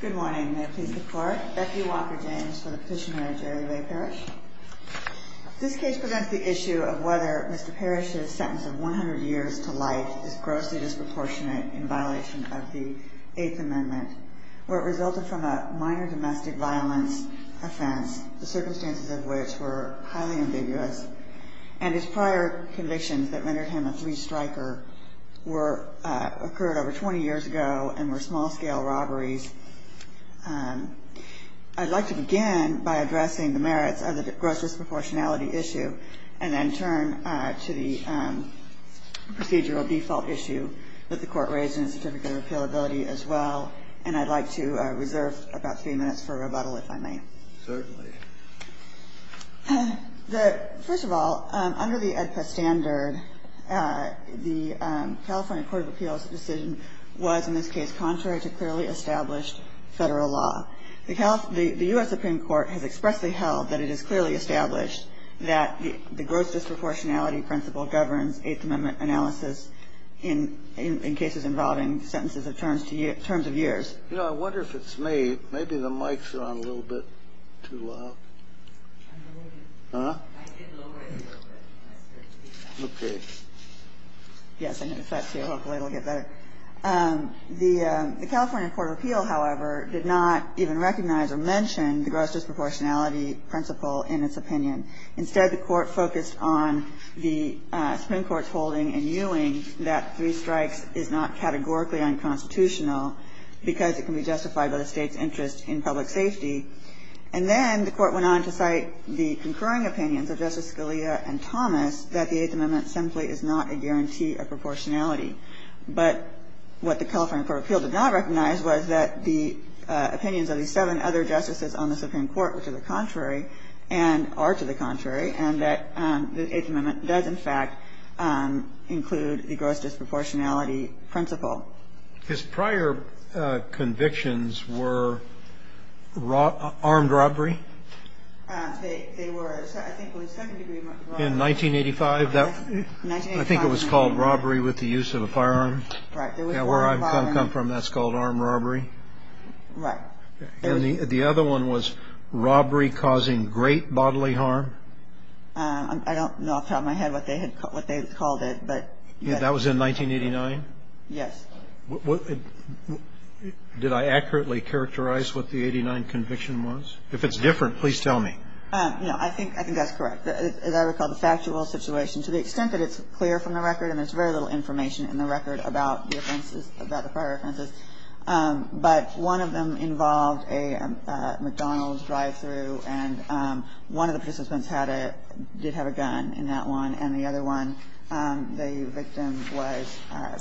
Good morning. May it please the Court. Becky Walker-James for the petitioner Jerry Ray Parrish. This case presents the issue of whether Mr. Parrish's sentence of 100 years to life is grossly disproportionate in violation of the Eighth Amendment, where it resulted from a minor domestic violence offense, the circumstances of which were highly ambiguous, and his prior convictions that rendered him a three-striker occurred over 20 years ago and were small-scale robberies. I'd like to begin by addressing the merits of the gross disproportionality issue, and then turn to the procedural default issue that the Court raised in the certificate of appealability as well. And I'd like to reserve about three minutes for rebuttal, if I may. Certainly. First of all, under the AEDPA standard, the California Court of Appeals' decision was, in this case, contrary to clearly established Federal law. The U.S. Supreme Court has expressly held that it is clearly established that the gross disproportionality principle governs Eighth Amendment analysis in cases involving sentences of terms of years. You know, I wonder if it's me. Maybe the mic's on a little bit too loud. Huh? I did lower it a little bit. Okay. Yes, I noticed that, too. Hopefully it'll get better. The California Court of Appeals, however, did not even recognize or mention the gross disproportionality principle in its opinion. Instead, the Court focused on the Supreme Court's holding and viewing that three strikes is not categorically unconstitutional because it can be justified by the State's interest in public safety. And then the Court went on to cite the concurring opinions of Justice Scalia and Thomas that the Eighth Amendment simply is not a guarantee of proportionality. But what the California Court of Appeals did not recognize was that the opinions of the seven other justices on the Supreme Court were to the contrary and are to the contrary, and that the Eighth Amendment does, in fact, include the gross disproportionality principle. Just before I go on with my questions, I'll pause here and say that Justice Kennedy's prior convictions were what? His prior convictions were armed robbery. They were, I think, 70 degree armed robbery. In 1985. I think it was called robbery with the use of a firearm. Right. Where I come from that's called armed robbery. Right. And the other one was robbery causing great bodily harm? I don't know off the top of my head what they called it, but yes. That was in 1989? Yes. Did I accurately characterize what the 89 conviction was? If it's different, please tell me. No, I think that's correct. As I recall, the factual situation, to the extent that it's clear from the record, and there's very little information in the record about the prior offenses, but one of them involved a McDonald's drive-through, and one of the participants did have a gun in that one, and the other one the victim was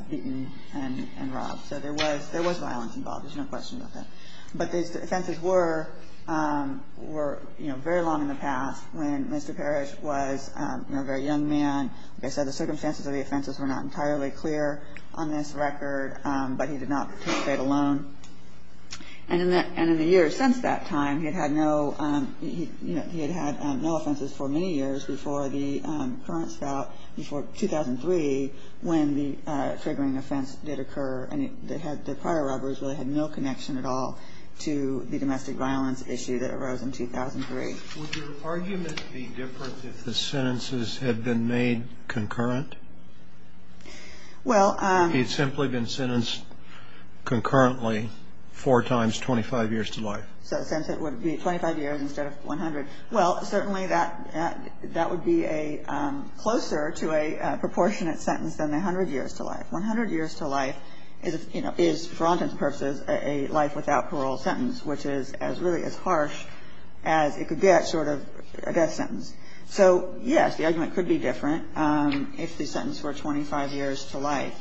beaten and robbed. So there was violence involved. There's no question about that. But the offenses were very long in the past when Mr. Parrish was a very young man. Like I said, the circumstances of the offenses were not entirely clear on this record, but he did not participate alone. And in the years since that time, he had had no offenses for many years before the current spout, before 2003 when the triggering offense did occur, and the prior robberies really had no connection at all to the domestic violence issue that arose in 2003. Would your argument be different if the sentences had been made concurrent? Well. He had simply been sentenced concurrently four times, 25 years to life. So since it would be 25 years instead of 100. Well, certainly that would be closer to a proportionate sentence than 100 years to life. 100 years to life is, for all intents and purposes, a life without parole sentence, which is really as harsh as it could get, sort of a death sentence. So, yes, the argument could be different if the sentence were 25 years to life.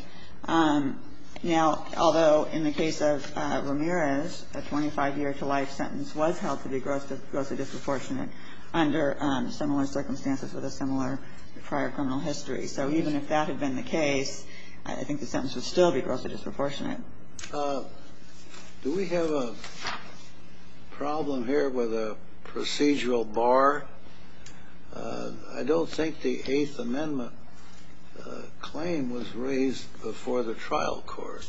Now, although in the case of Ramirez, a 25-year-to-life sentence was held to be grossly disproportionate under similar circumstances with a similar prior criminal history. So even if that had been the case, I think the sentence would still be grossly disproportionate. Do we have a problem here with a procedural bar? I don't think the Eighth Amendment claim was raised before the trial court.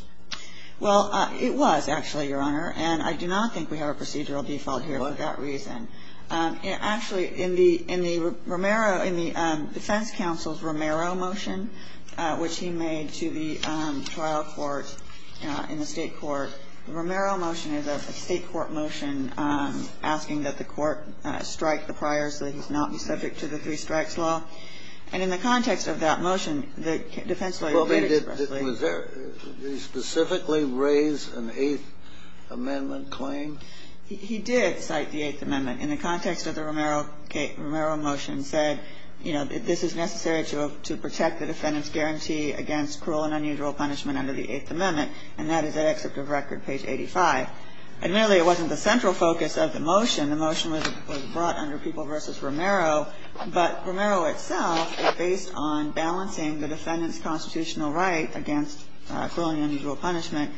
Well, it was, actually, Your Honor. And I do not think we have a procedural default here for that reason. Actually, in the Romero, in the defense counsel's Romero motion, which he made to the state court, the Romero motion is a state court motion asking that the court strike the prior so that he's not subject to the three-strikes law. And in the context of that motion, the defense lawyer did expressly raise it. Well, did he specifically raise an Eighth Amendment claim? He did cite the Eighth Amendment in the context of the Romero motion said, you know, this is necessary to protect the defendant's guarantee against cruel and unusual punishment under the Eighth Amendment, and that is at Excerpt of Record, page 85. Admittedly, it wasn't the central focus of the motion. The motion was brought under People v. Romero, but Romero itself is based on balancing the defendant's constitutional right against cruel and unusual punishment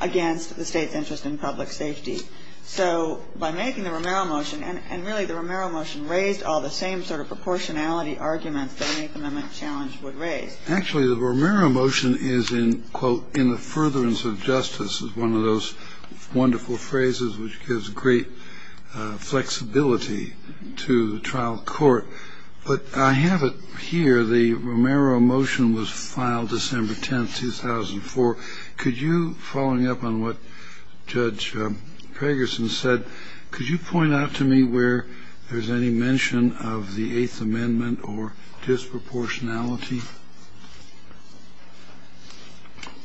against the State's interest in public safety. So by making the Romero motion, and really the Romero motion raised all the same sort of proportionality arguments that an Eighth Amendment challenge would raise. Actually, the Romero motion is in, quote, in the furtherance of justice, is one of those wonderful phrases which gives great flexibility to the trial court. But I have it here. The Romero motion was filed December 10, 2004. Could you, following up on what Judge Cragerson said, could you point out to me where there's any mention of the Eighth Amendment or disproportionality?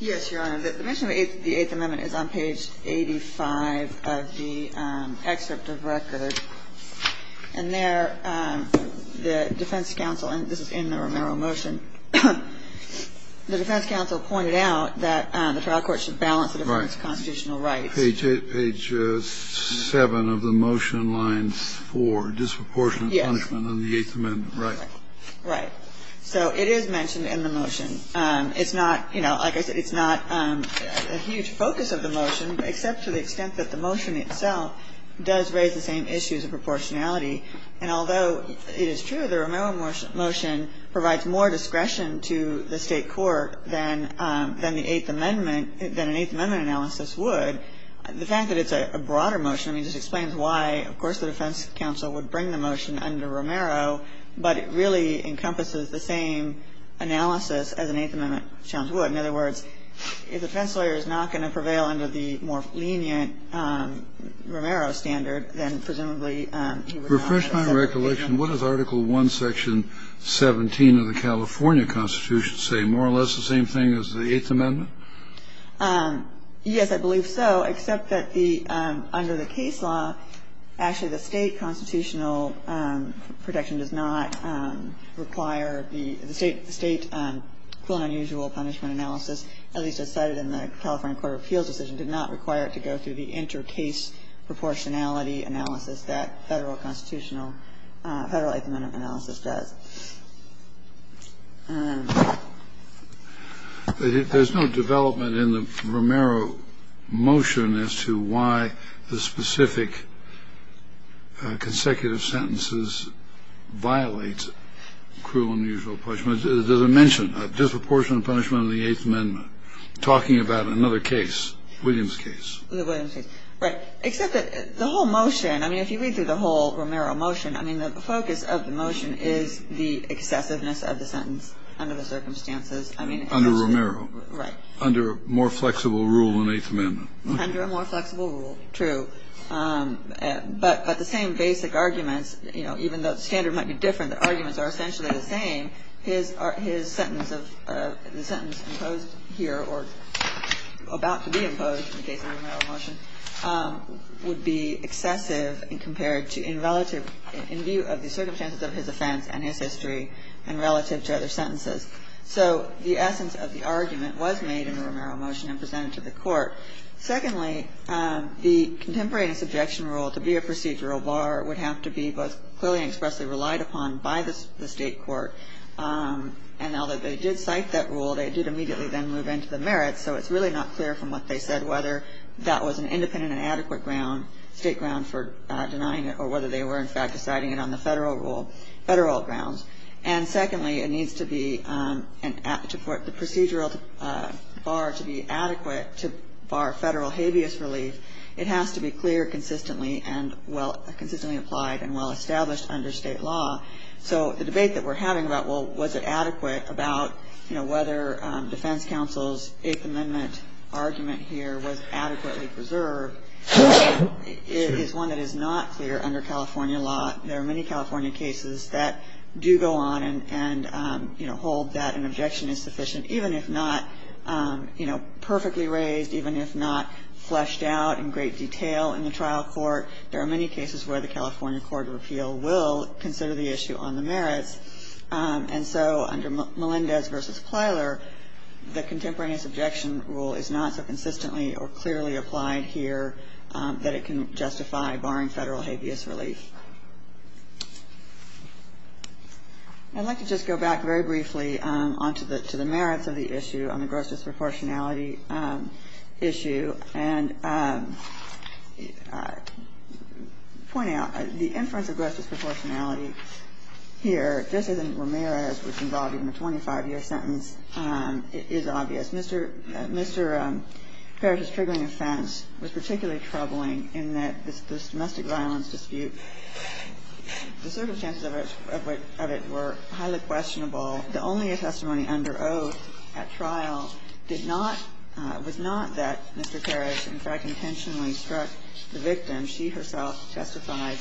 Yes, Your Honor. The mention of the Eighth Amendment is on page 85 of the Excerpt of Record. And there, the defense counsel, and this is in the Romero motion, the defense counsel pointed out that the trial court should balance the defendant's constitutional rights. Page 7 of the motion lines 4, disproportionate punishment under the Eighth Amendment. Right. Right. So it is mentioned in the motion. It's not, you know, like I said, it's not a huge focus of the motion, except to the extent that the motion itself does raise the same issues of proportionality. And although it is true the Romero motion provides more discretion to the State court than the Eighth Amendment, than an Eighth Amendment analysis would, the fact that it's a broader motion, I mean, just explains why, of course, the defense counsel would bring the motion under Romero, but it really encompasses the same analysis as an Eighth Amendment challenge would. In other words, if the defense lawyer is not going to prevail under the more lenient Romero standard, then presumably he would not have a separate opinion. Refresh my recollection. What does Article I, Section 17 of the California Constitution say? More or less the same thing as the Eighth Amendment? Yes, I believe so, except that the under the case law, actually the State constitutional protection does not require the State, the State cruel and unusual punishment analysis, at least as cited in the California Court of Appeals decision, did not require it to go through the inter-case proportionality analysis that Federal constitutional, Federal Eighth Amendment analysis does. There's no development in the Romero motion as to why the specific consecutive sentences violate cruel and unusual punishment. The question is, does it mention a disproportionate punishment in the Eighth Amendment talking about another case, Williams case? The Williams case. Right. Except that the whole motion, I mean, if you read through the whole Romero motion, I mean, the focus of the motion is the excessiveness of the sentence under the circumstances. Under Romero. Right. Under a more flexible rule in the Eighth Amendment. Under a more flexible rule, true. But the same basic arguments, you know, even though the standard might be different, the arguments are essentially the same, his sentence of the sentence imposed here or about to be imposed in the case of the Romero motion would be excessive compared to in relative, in view of the circumstances of his offense and his history and relative to other sentences. So the essence of the argument was made in the Romero motion and presented to the Court. Secondly, the contemporary and subjection rule to be a procedural bar would have to be both clearly and expressly relied upon by the state court. And now that they did cite that rule, they did immediately then move into the merits, so it's really not clear from what they said whether that was an independent and adequate ground, state ground for denying it or whether they were in fact deciding it on the federal rule, federal grounds. And secondly, it needs to be an act to put the procedural bar to be adequate to bar federal habeas relief. It has to be clear consistently and well, consistently applied and well established under state law. So the debate that we're having about, well, was it adequate about, you know, whether defense counsel's Eighth Amendment argument here was adequately preserved is one that is not clear under California law. There are many California cases that do go on and, you know, hold that an objection is sufficient, even if not, you know, perfectly raised, even if not fleshed out in great detail in the trial court. There are many cases where the California Court of Appeal will consider the issue on the merits. And so under Melendez v. Plyler, the contemporaneous objection rule is not so consistently or clearly applied here that it can justify barring federal habeas relief. I'd like to just go back very briefly on to the merits of the issue on the gross disproportionality issue and point out the inference of gross disproportionality here, just as in Ramirez, which involved even a 25-year sentence, is obvious. Mr. Parish's triggering offense was particularly troubling in that this domestic violence dispute, the circumstances of it were highly questionable. The only testimony under oath at trial did not – was not that Mr. Parish, in fact, intentionally struck the victim. She herself testified,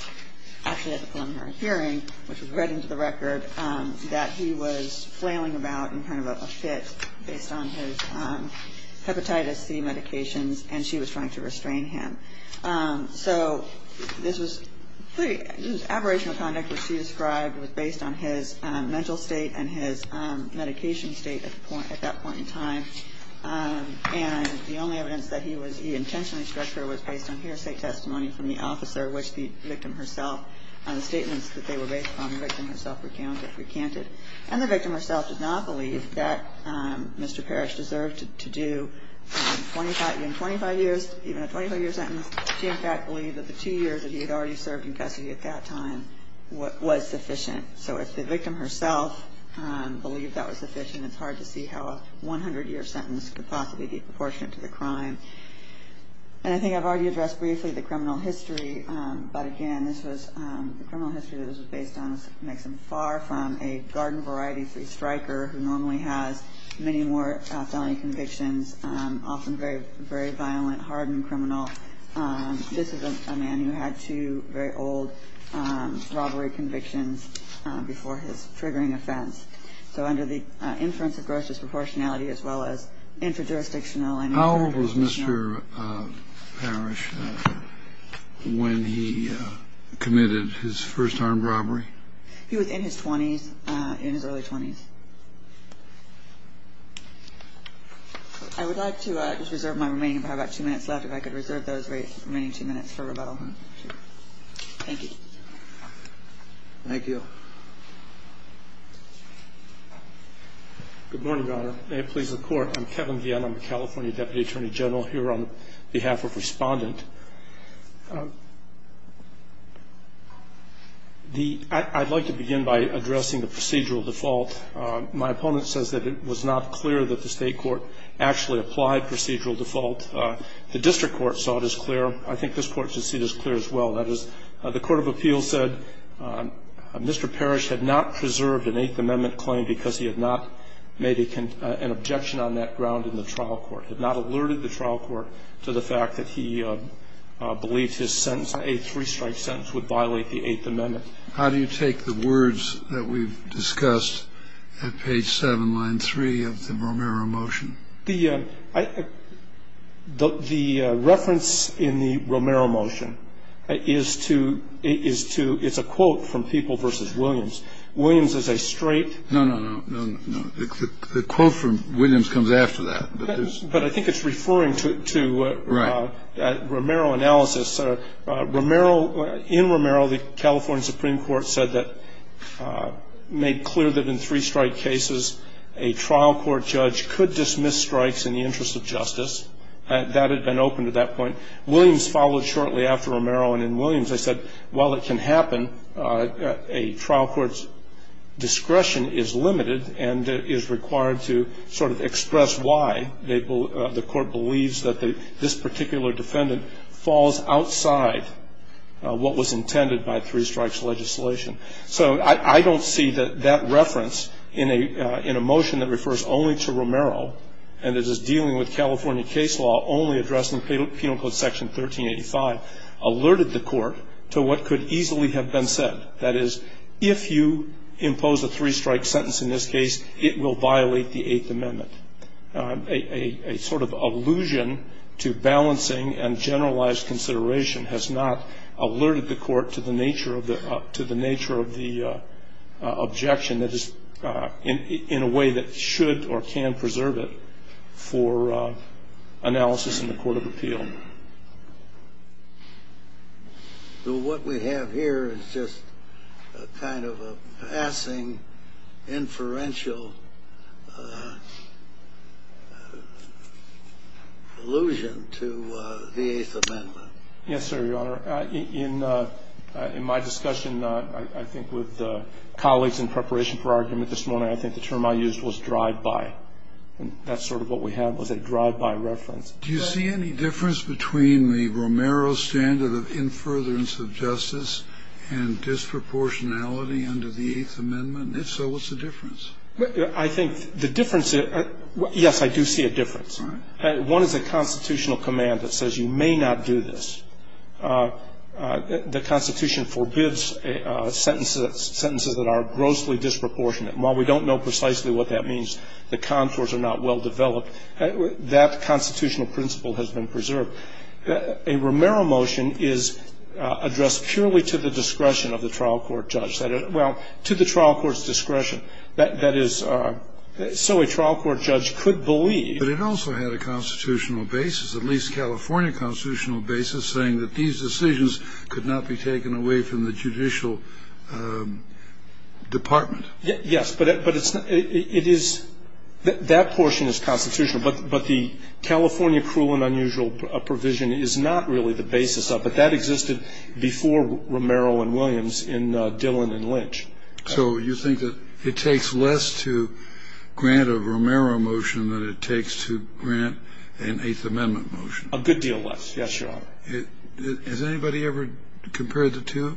actually at the preliminary hearing, which was read into the record, that he was flailing about in kind of a fit based on his hepatitis C medications, and she was trying to restrain him. So this was pretty – this aberration of conduct, which she described, was based on his mental state and his medication state at that point in time. And the only evidence that he was – he intentionally struck her was based on hearsay testimony from the officer, which the victim herself – the statements that they were based upon, the victim herself recounted. And the victim herself did not believe that Mr. Parish deserved to do 25 – even 25 years, even a 25-year sentence. She, in fact, believed that the two years that he had already served in custody at that time was sufficient. So if the victim herself believed that was sufficient, it's hard to see how a 100-year sentence could possibly be proportionate to the crime. And I think I've already addressed briefly the criminal history, but again, this was – the criminal history that this was based on makes him far from a garden variety free striker who normally has many more felony convictions, often very violent, hard and criminal. This is a man who had two very old robbery convictions before his triggering offense. So under the inference of gross disproportionality as well as interjurisdictional and inter-jurisdictional. Kennedy. How old was Mr. Parish when he committed his first armed robbery? He was in his 20s, in his early 20s. I would like to reserve my remaining time. I've got two minutes left. If I could reserve those remaining two minutes for rebuttal. Thank you. Thank you. Good morning, Your Honor. May it please the Court. I'm Kevin Guillen. I'm the California Deputy Attorney General here on behalf of Respondent. I'd like to begin by addressing the procedural default. My opponent says that it was not clear that the State court actually applied procedural default. The district court saw it as clear. I think this Court should see this clear as well. That is, the court of appeals said Mr. Parish had not preserved an Eighth Amendment claim because he had not made an objection on that ground in the trial court, had not alerted the trial court to the fact that he believed his sentence, a three-strike sentence, would violate the Eighth Amendment. How do you take the words that we've discussed at page 7, line 3 of the Romero motion? The reference in the Romero motion is to — it's a quote from People v. Williams. Williams is a straight — No, no, no. The quote from Williams comes after that. But I think it's referring to Romero analysis. In Romero, the California Supreme Court said that — made clear that in three-strike cases, a trial court judge could dismiss strikes in the interest of justice. That had been open to that point. Williams followed shortly after Romero, and in Williams they said, while it can happen, a trial court's discretion is limited and is required to sort of express why the court believes that this particular defendant falls outside what was intended by three-strikes legislation. So I don't see that that reference in a motion that refers only to Romero and that is dealing with California case law only addressed in Penal Code Section 1385 alerted the court to what could easily have been said. That is, if you impose a three-strike sentence in this case, it will violate the Eighth Amendment. A sort of allusion to balancing and generalized consideration has not alerted the court to the nature of the — to the nature of the objection that is in a way that should or can preserve it for analysis in the court of appeal. So what we have here is just a kind of a passing inferential allusion to the Eighth Amendment. Yes, sir, Your Honor. In my discussion, I think, with colleagues in preparation for argument this morning, I think the term I used was drive-by. And that's sort of what we had, was a drive-by reference. Do you see any difference between the Romero standard of infuriance of justice and disproportionality under the Eighth Amendment? If so, what's the difference? All right. One is a constitutional command that says you may not do this. The Constitution forbids sentences that are grossly disproportionate. And while we don't know precisely what that means, the contours are not well developed. That constitutional principle has been preserved. A Romero motion is addressed purely to the discretion of the trial court judge. Well, to the trial court's discretion. That is, so a trial court judge could believe. But it also had a constitutional basis, at least California constitutional basis, saying that these decisions could not be taken away from the judicial department. Yes. But it is that portion is constitutional. But the California cruel and unusual provision is not really the basis of it. That existed before Romero and Williams in Dillon and Lynch. So you think that it takes less to grant a Romero motion than it takes to grant an Eighth Amendment motion? A good deal less, yes, Your Honor. Has anybody ever compared the two?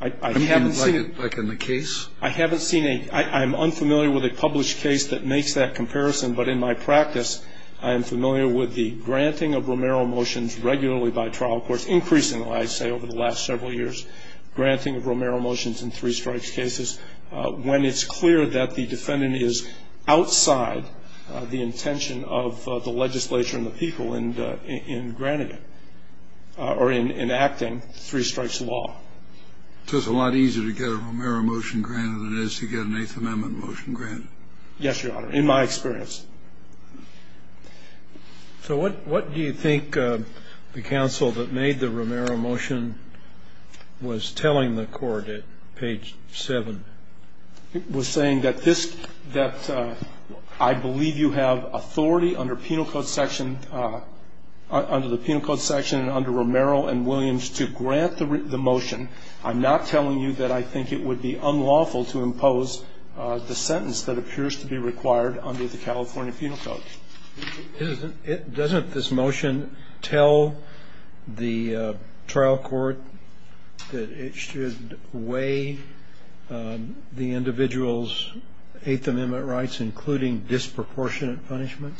I haven't seen it. Like in the case? I haven't seen a ñ I'm unfamiliar with a published case that makes that comparison. But in my practice, I am familiar with the granting of Romero motions regularly by trial courts, over the last several years, granting Romero motions in three-strikes cases, when it's clear that the defendant is outside the intention of the legislature and the people in granting it or in enacting three-strikes law. So it's a lot easier to get a Romero motion granted than it is to get an Eighth Amendment motion granted? Yes, Your Honor, in my experience. So what do you think the counsel that made the Romero motion was telling the court at page 7? It was saying that this ñ that I believe you have authority under penal code section, under the penal code section and under Romero and Williams to grant the motion. I'm not telling you that I think it would be unlawful to impose the sentence that appears to be required under the California penal code. Doesn't this motion tell the trial court that it should weigh the individual's Eighth Amendment rights, including disproportionate punishment?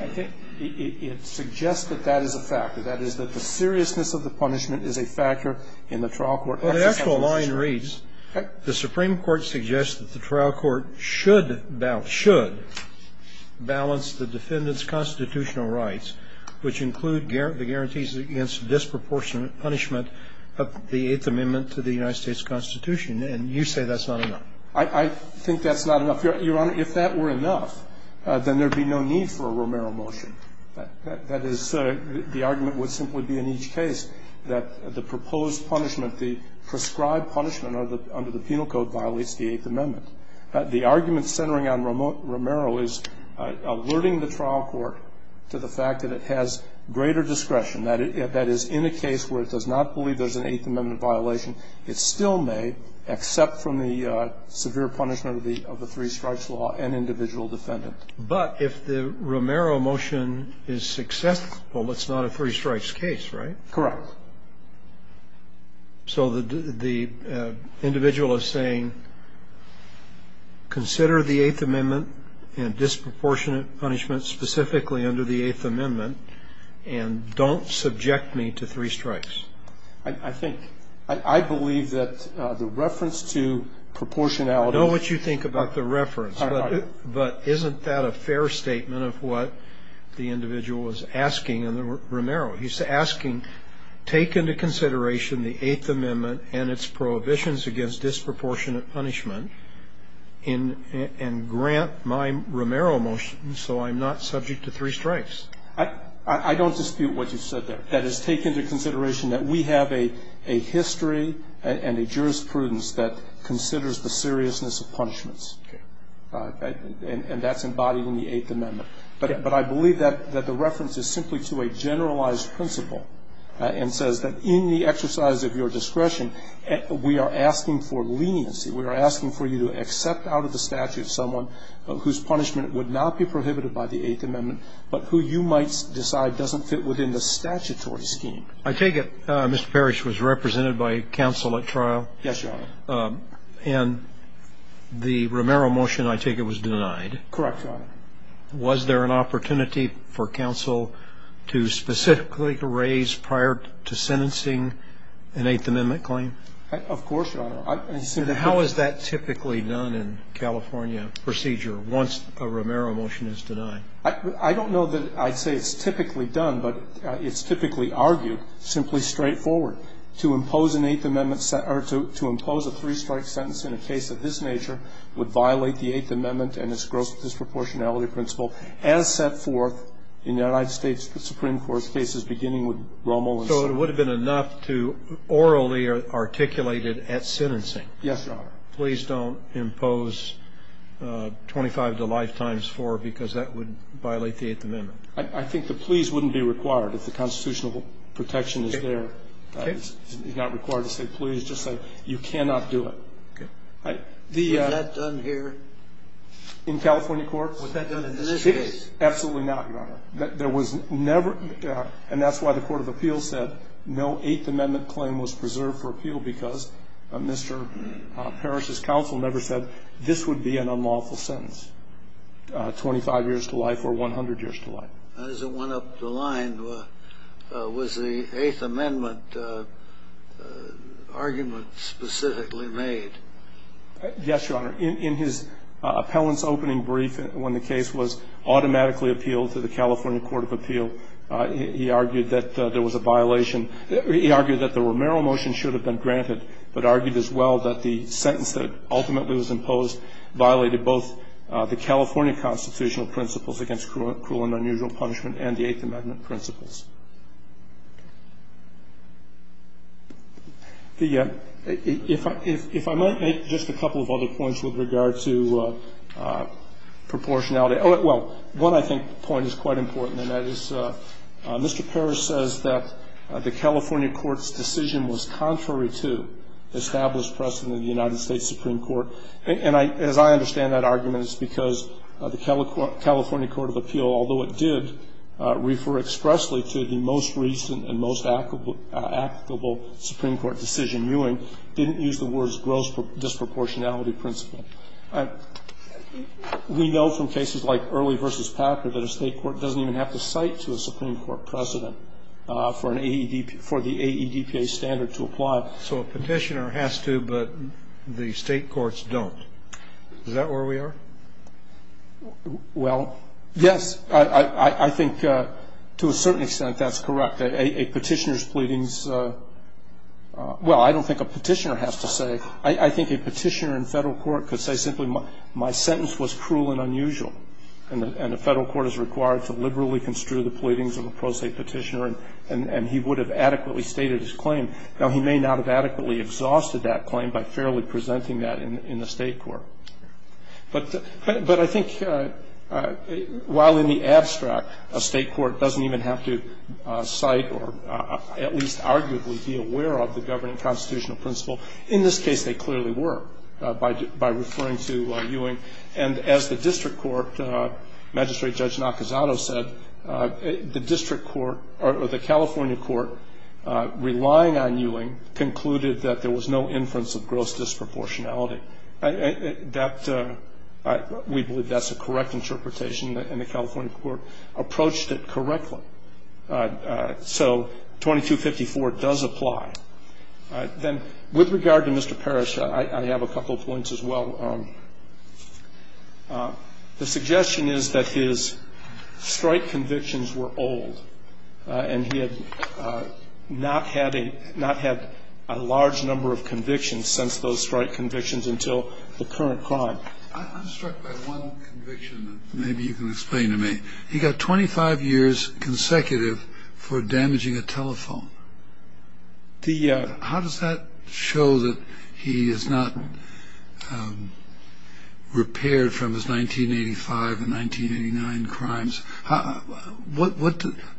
I think it suggests that that is a factor. That is that the seriousness of the punishment is a factor in the trial court. Well, the actual line reads, the Supreme Court suggests that the trial court should balance the defendant's constitutional rights, which include the guarantees against disproportionate punishment of the Eighth Amendment to the United States Constitution. And you say that's not enough. I think that's not enough. Your Honor, if that were enough, then there would be no need for a Romero motion. That is, the argument would simply be in each case that the proposed punishment, the prescribed punishment under the penal code violates the Eighth Amendment. The argument centering on Romero is alerting the trial court to the fact that it has greater discretion, that is, in a case where it does not believe there's an Eighth Amendment violation, it still may, except from the severe punishment of the three-strikes law, an individual defendant. But if the Romero motion is successful, it's not a three-strikes case, right? Correct. So the individual is saying, consider the Eighth Amendment and disproportionate punishment specifically under the Eighth Amendment and don't subject me to three-strikes. I think, I believe that the reference to proportionality. I know what you think about the reference. But isn't that a fair statement of what the individual was asking in the Romero? He's asking, take into consideration the Eighth Amendment and its prohibitions against disproportionate punishment and grant my Romero motion so I'm not subject to three-strikes. I don't dispute what you said there. That is, take into consideration that we have a history and a jurisprudence that considers the seriousness of punishments. And that's embodied in the Eighth Amendment. But I believe that the reference is simply to a generalized principle and says that in the exercise of your discretion, we are asking for leniency. We are asking for you to accept out of the statute someone whose punishment would not be prohibited by the Eighth Amendment, but who you might decide doesn't fit within the statutory scheme. I take it Mr. Parrish was represented by counsel at trial? Yes, Your Honor. And the Romero motion, I take it, was denied? Correct, Your Honor. Was there an opportunity for counsel to specifically raise prior to sentencing an Eighth Amendment claim? Of course, Your Honor. And how is that typically done in California procedure once a Romero motion is denied? I don't know that I'd say it's typically done, but it's typically argued simply straightforward. To impose an Eighth Amendment or to impose a three-strike sentence in a case of this nature would violate the Eighth Amendment and its gross disproportionality principle as set forth in the United States Supreme Court's cases beginning with Romero. So it would have been enough to orally articulate it at sentencing? Yes, Your Honor. Please don't impose 25 to life times 4 because that would violate the Eighth Amendment. I think the please wouldn't be required if the constitutional protection is there. Okay. It's not required to say please, just say you cannot do it. Okay. Was that done here? In California courts? Was that done in this case? Absolutely not, Your Honor. There was never, and that's why the Court of Appeals said no Eighth Amendment claim was preserved for appeal because Mr. Parrish's counsel never said this would be an unlawful sentence, 25 years to life or 100 years to life. As it went up the line, was the Eighth Amendment argument specifically made? Yes, Your Honor. In his appellant's opening brief when the case was automatically appealed to the California Court of Appeal, he argued that there was a violation. He argued that the Romero motion should have been granted but argued as well that the violation violated both the California constitutional principles against cruel and unusual punishment and the Eighth Amendment principles. If I might make just a couple of other points with regard to proportionality. Well, one, I think, point is quite important, and that is Mr. Parrish says that the California court's decision was contrary to established precedent of the United States Supreme Court. And as I understand that argument, it's because the California Court of Appeal, although it did refer expressly to the most recent and most applicable Supreme Court decision viewing, didn't use the words gross disproportionality principle. We know from cases like Early v. Packard that a state court doesn't even have to cite to a Supreme Court precedent for the AEDPA standard to apply. So a Petitioner has to, but the state courts don't. Is that where we are? Well, yes. I think to a certain extent that's correct. A Petitioner's pleadings, well, I don't think a Petitioner has to say. I think a Petitioner in Federal court could say simply, my sentence was cruel and unusual. And the Federal court is required to liberally construe the pleadings of a pro se Petitioner, and he would have adequately stated his claim. Now, he may not have adequately exhausted that claim by fairly presenting that in a state court. But I think while in the abstract a state court doesn't even have to cite or at least arguably be aware of the governing constitutional principle, in this case they clearly were by referring to Ewing. And as the district court, Magistrate Judge Nakazato said, the district court or the California court relying on Ewing concluded that there was no inference of gross disproportionality. We believe that's a correct interpretation, and the California court approached it correctly. So 2254 does apply. Then with regard to Mr. Parrish, I have a couple of points as well. One is that he was not convicted of any crime. The other is that he was not convicted of any crime. And so the suggestion is that his strike convictions were old, and he had not had a large number of convictions since those strike convictions until the current crime. I'm struck by one conviction that maybe you can explain to me. He got 25 years consecutive for damaging a telephone. How does that show that he is not repaired from his 1985 and 1989 crimes?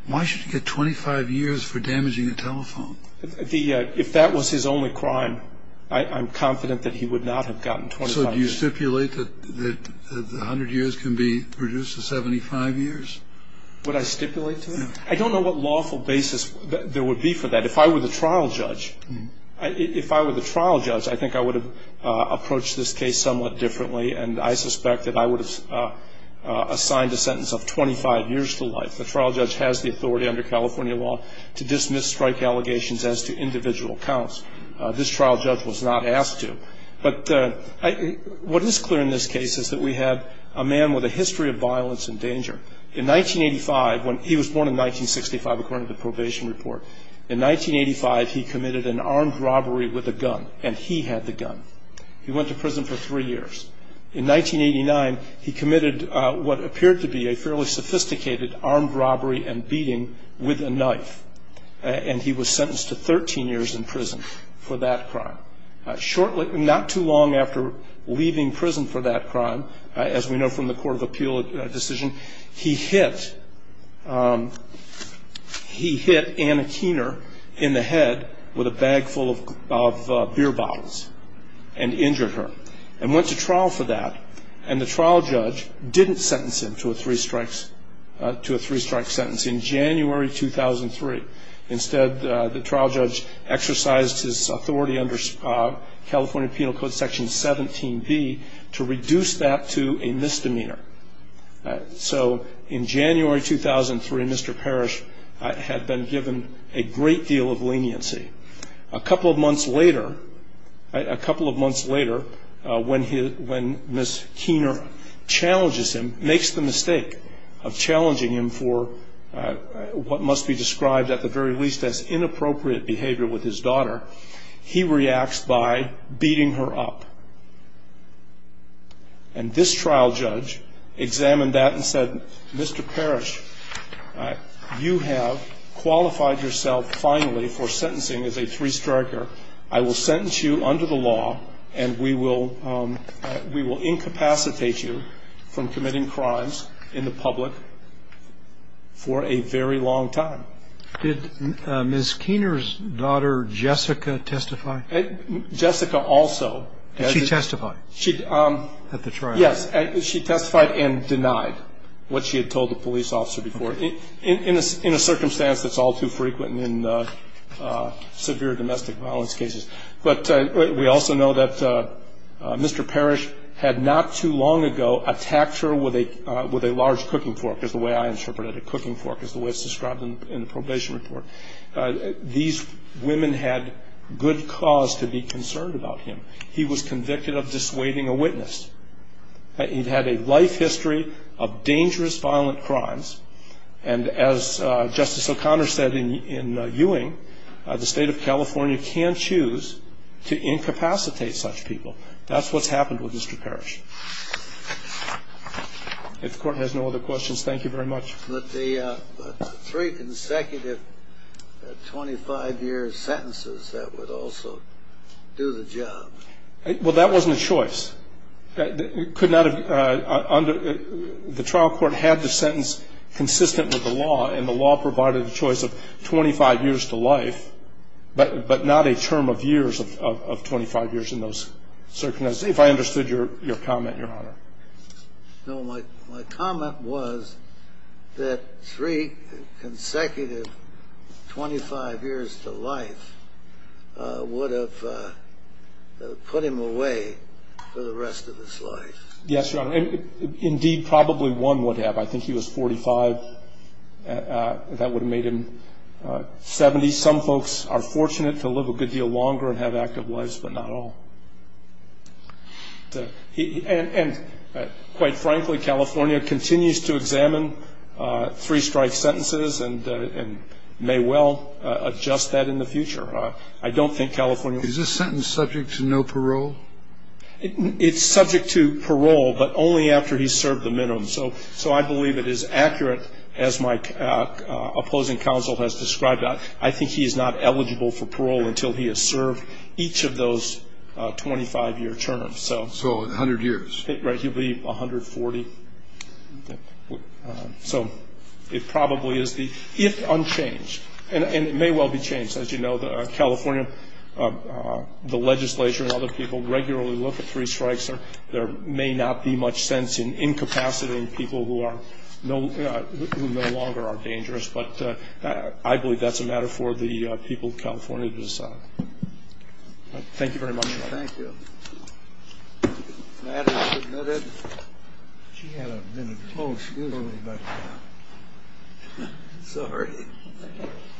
Why should he get 25 years for damaging a telephone? If that was his only crime, I'm confident that he would not have gotten 25 years. And so do you stipulate that 100 years can be reduced to 75 years? Would I stipulate to that? I don't know what lawful basis there would be for that. If I were the trial judge, if I were the trial judge, I think I would have approached this case somewhat differently, and I suspect that I would have assigned a sentence of 25 years to life. The trial judge has the authority under California law to dismiss strike allegations as to individual counts. This trial judge was not asked to. But what is clear in this case is that we have a man with a history of violence and danger. In 1985, when he was born in 1965, according to the probation report, in 1985, he committed an armed robbery with a gun, and he had the gun. He went to prison for three years. In 1989, he committed what appeared to be a fairly sophisticated armed robbery and beating with a knife, and he was sentenced to 13 years in prison for that crime. Not too long after leaving prison for that crime, as we know from the court of appeal decision, he hit Anna Keener in the head with a bag full of beer bottles and injured her and went to trial for that. And the trial judge didn't sentence him to a three-strike sentence in January 2003. Instead, the trial judge exercised his authority under California Penal Code Section 17B to reduce that to a misdemeanor. So in January 2003, Mr. Parrish had been given a great deal of leniency. A couple of months later, when Miss Keener challenges him, makes the mistake of challenging him for what must be described at the very least as inappropriate behavior with his daughter, he reacts by beating her up. And this trial judge examined that and said, Mr. Parrish, you have qualified yourself finally for sentencing as a three-striker. I will sentence you under the law, and we will incapacitate you from committing crimes in the public for a very long time. Did Miss Keener's daughter, Jessica, testify? Jessica also. Did she testify at the trial? Yes, she testified and denied what she had told the police officer before. In a circumstance that's all too frequent in severe domestic violence cases. But we also know that Mr. Parrish had not too long ago attacked her with a large cooking fork, is the way I interpret it. A cooking fork is the way it's described in the probation report. These women had good cause to be concerned about him. He was convicted of dissuading a witness. He had a life history of dangerous, violent crimes. And as Justice O'Connor said in Ewing, the State of California can choose to incapacitate such people. That's what's happened with Mr. Parrish. If the Court has no other questions, thank you very much. But the three consecutive 25-year sentences, that would also do the job. Well, that wasn't a choice. The trial court had the sentence consistent with the law, and the law provided the choice of 25 years to life, but not a term of years of 25 years in those circumstances. If I understood your comment, Your Honor. No, my comment was that three consecutive 25 years to life would have put him away for the rest of his life. Yes, Your Honor. Indeed, probably one would have. I think he was 45. That would have made him 70. Some folks are fortunate to live a good deal longer and have active lives, but not all. And quite frankly, California continues to examine three-strike sentences and may well adjust that in the future. I don't think California will. Is this sentence subject to no parole? It's subject to parole, but only after he's served the minimum. So I believe it is accurate, as my opposing counsel has described. I think he is not eligible for parole until he has served each of those 25-year terms. So in 100 years? Right, he'll be 140. So it probably is the, if unchanged, and it may well be changed. As you know, California, the legislature and other people regularly look at three-strikes. There may not be much sense in incapacitating people who no longer are dangerous, but I believe that's a matter for the people of California to decide. Thank you very much. Thank you. The matter is submitted. She had a minute. Oh, excuse me. Sorry.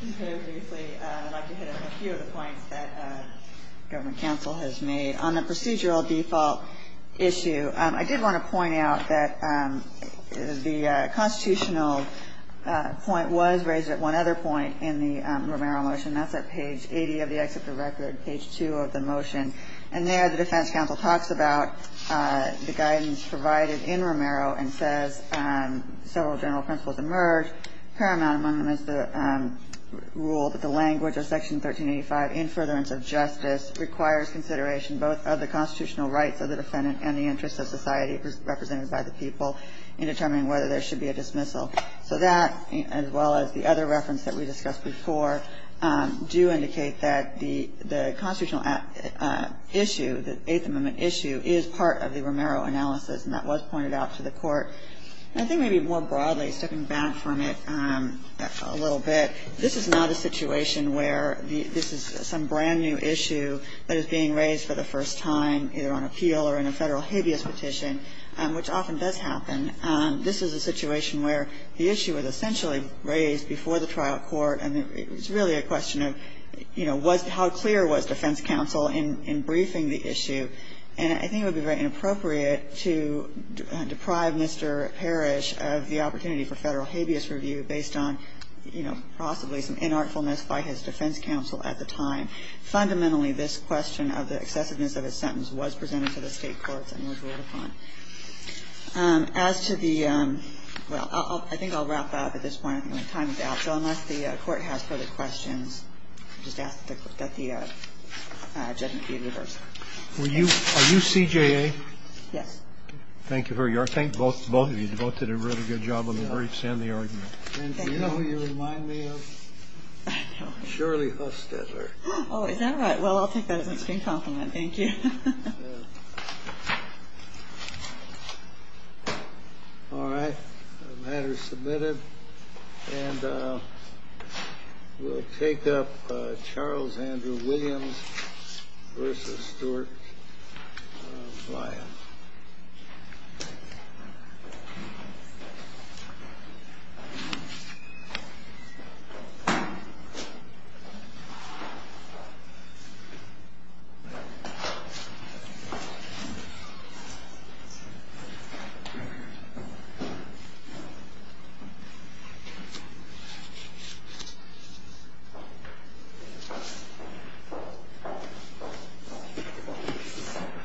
I'd like to hit on a few of the points that government counsel has made. On the procedural default issue, I did want to point out that the constitutional point was raised at one other point in the Romero motion. That's at page 80 of the Executive Record, page 2 of the motion. And there the defense counsel talks about the guidance provided in Romero and says several general principles emerge. Paramount among them is the rule that the language of Section 1385, in furtherance of justice, requires consideration both of the constitutional rights of the defendant and the interests of society represented by the people in determining whether there should be a dismissal. So that, as well as the other reference that we discussed before, do indicate that the constitutional issue, the Eighth Amendment issue, is part of the Romero analysis, and that was pointed out to the court. I think maybe more broadly, stepping back from it a little bit, this is not a situation where this is some brand-new issue that is being raised for the first time either on appeal or in a Federal habeas petition, which often does happen. This is a situation where the issue was essentially raised before the trial court, and it was really a question of, you know, how clear was defense counsel in briefing the issue. And I think it would be very inappropriate to deprive Mr. Parrish of the opportunity for Federal habeas review based on, you know, possibly some inartfulness by his defense counsel at the time. Fundamentally, this question of the excessiveness of his sentence was presented to the State courts and was ruled upon. As to the ñ well, I think I'll wrap up at this point. I don't have time for that. So unless the Court has further questions, I'll just ask that the judgment be reversed. Are you CJA? Yes. Thank you. Sure. I thank both of you. You both did a really good job on the briefs and the argument. And do you know who you remind me of? I don't. Shirley Hustedler. Oh, is that right? Well, I'll take that as an extreme compliment. Thank you. All right. The matter is submitted. And we'll take up Charles Andrew Williams v. Stuart Bryant. Thank you.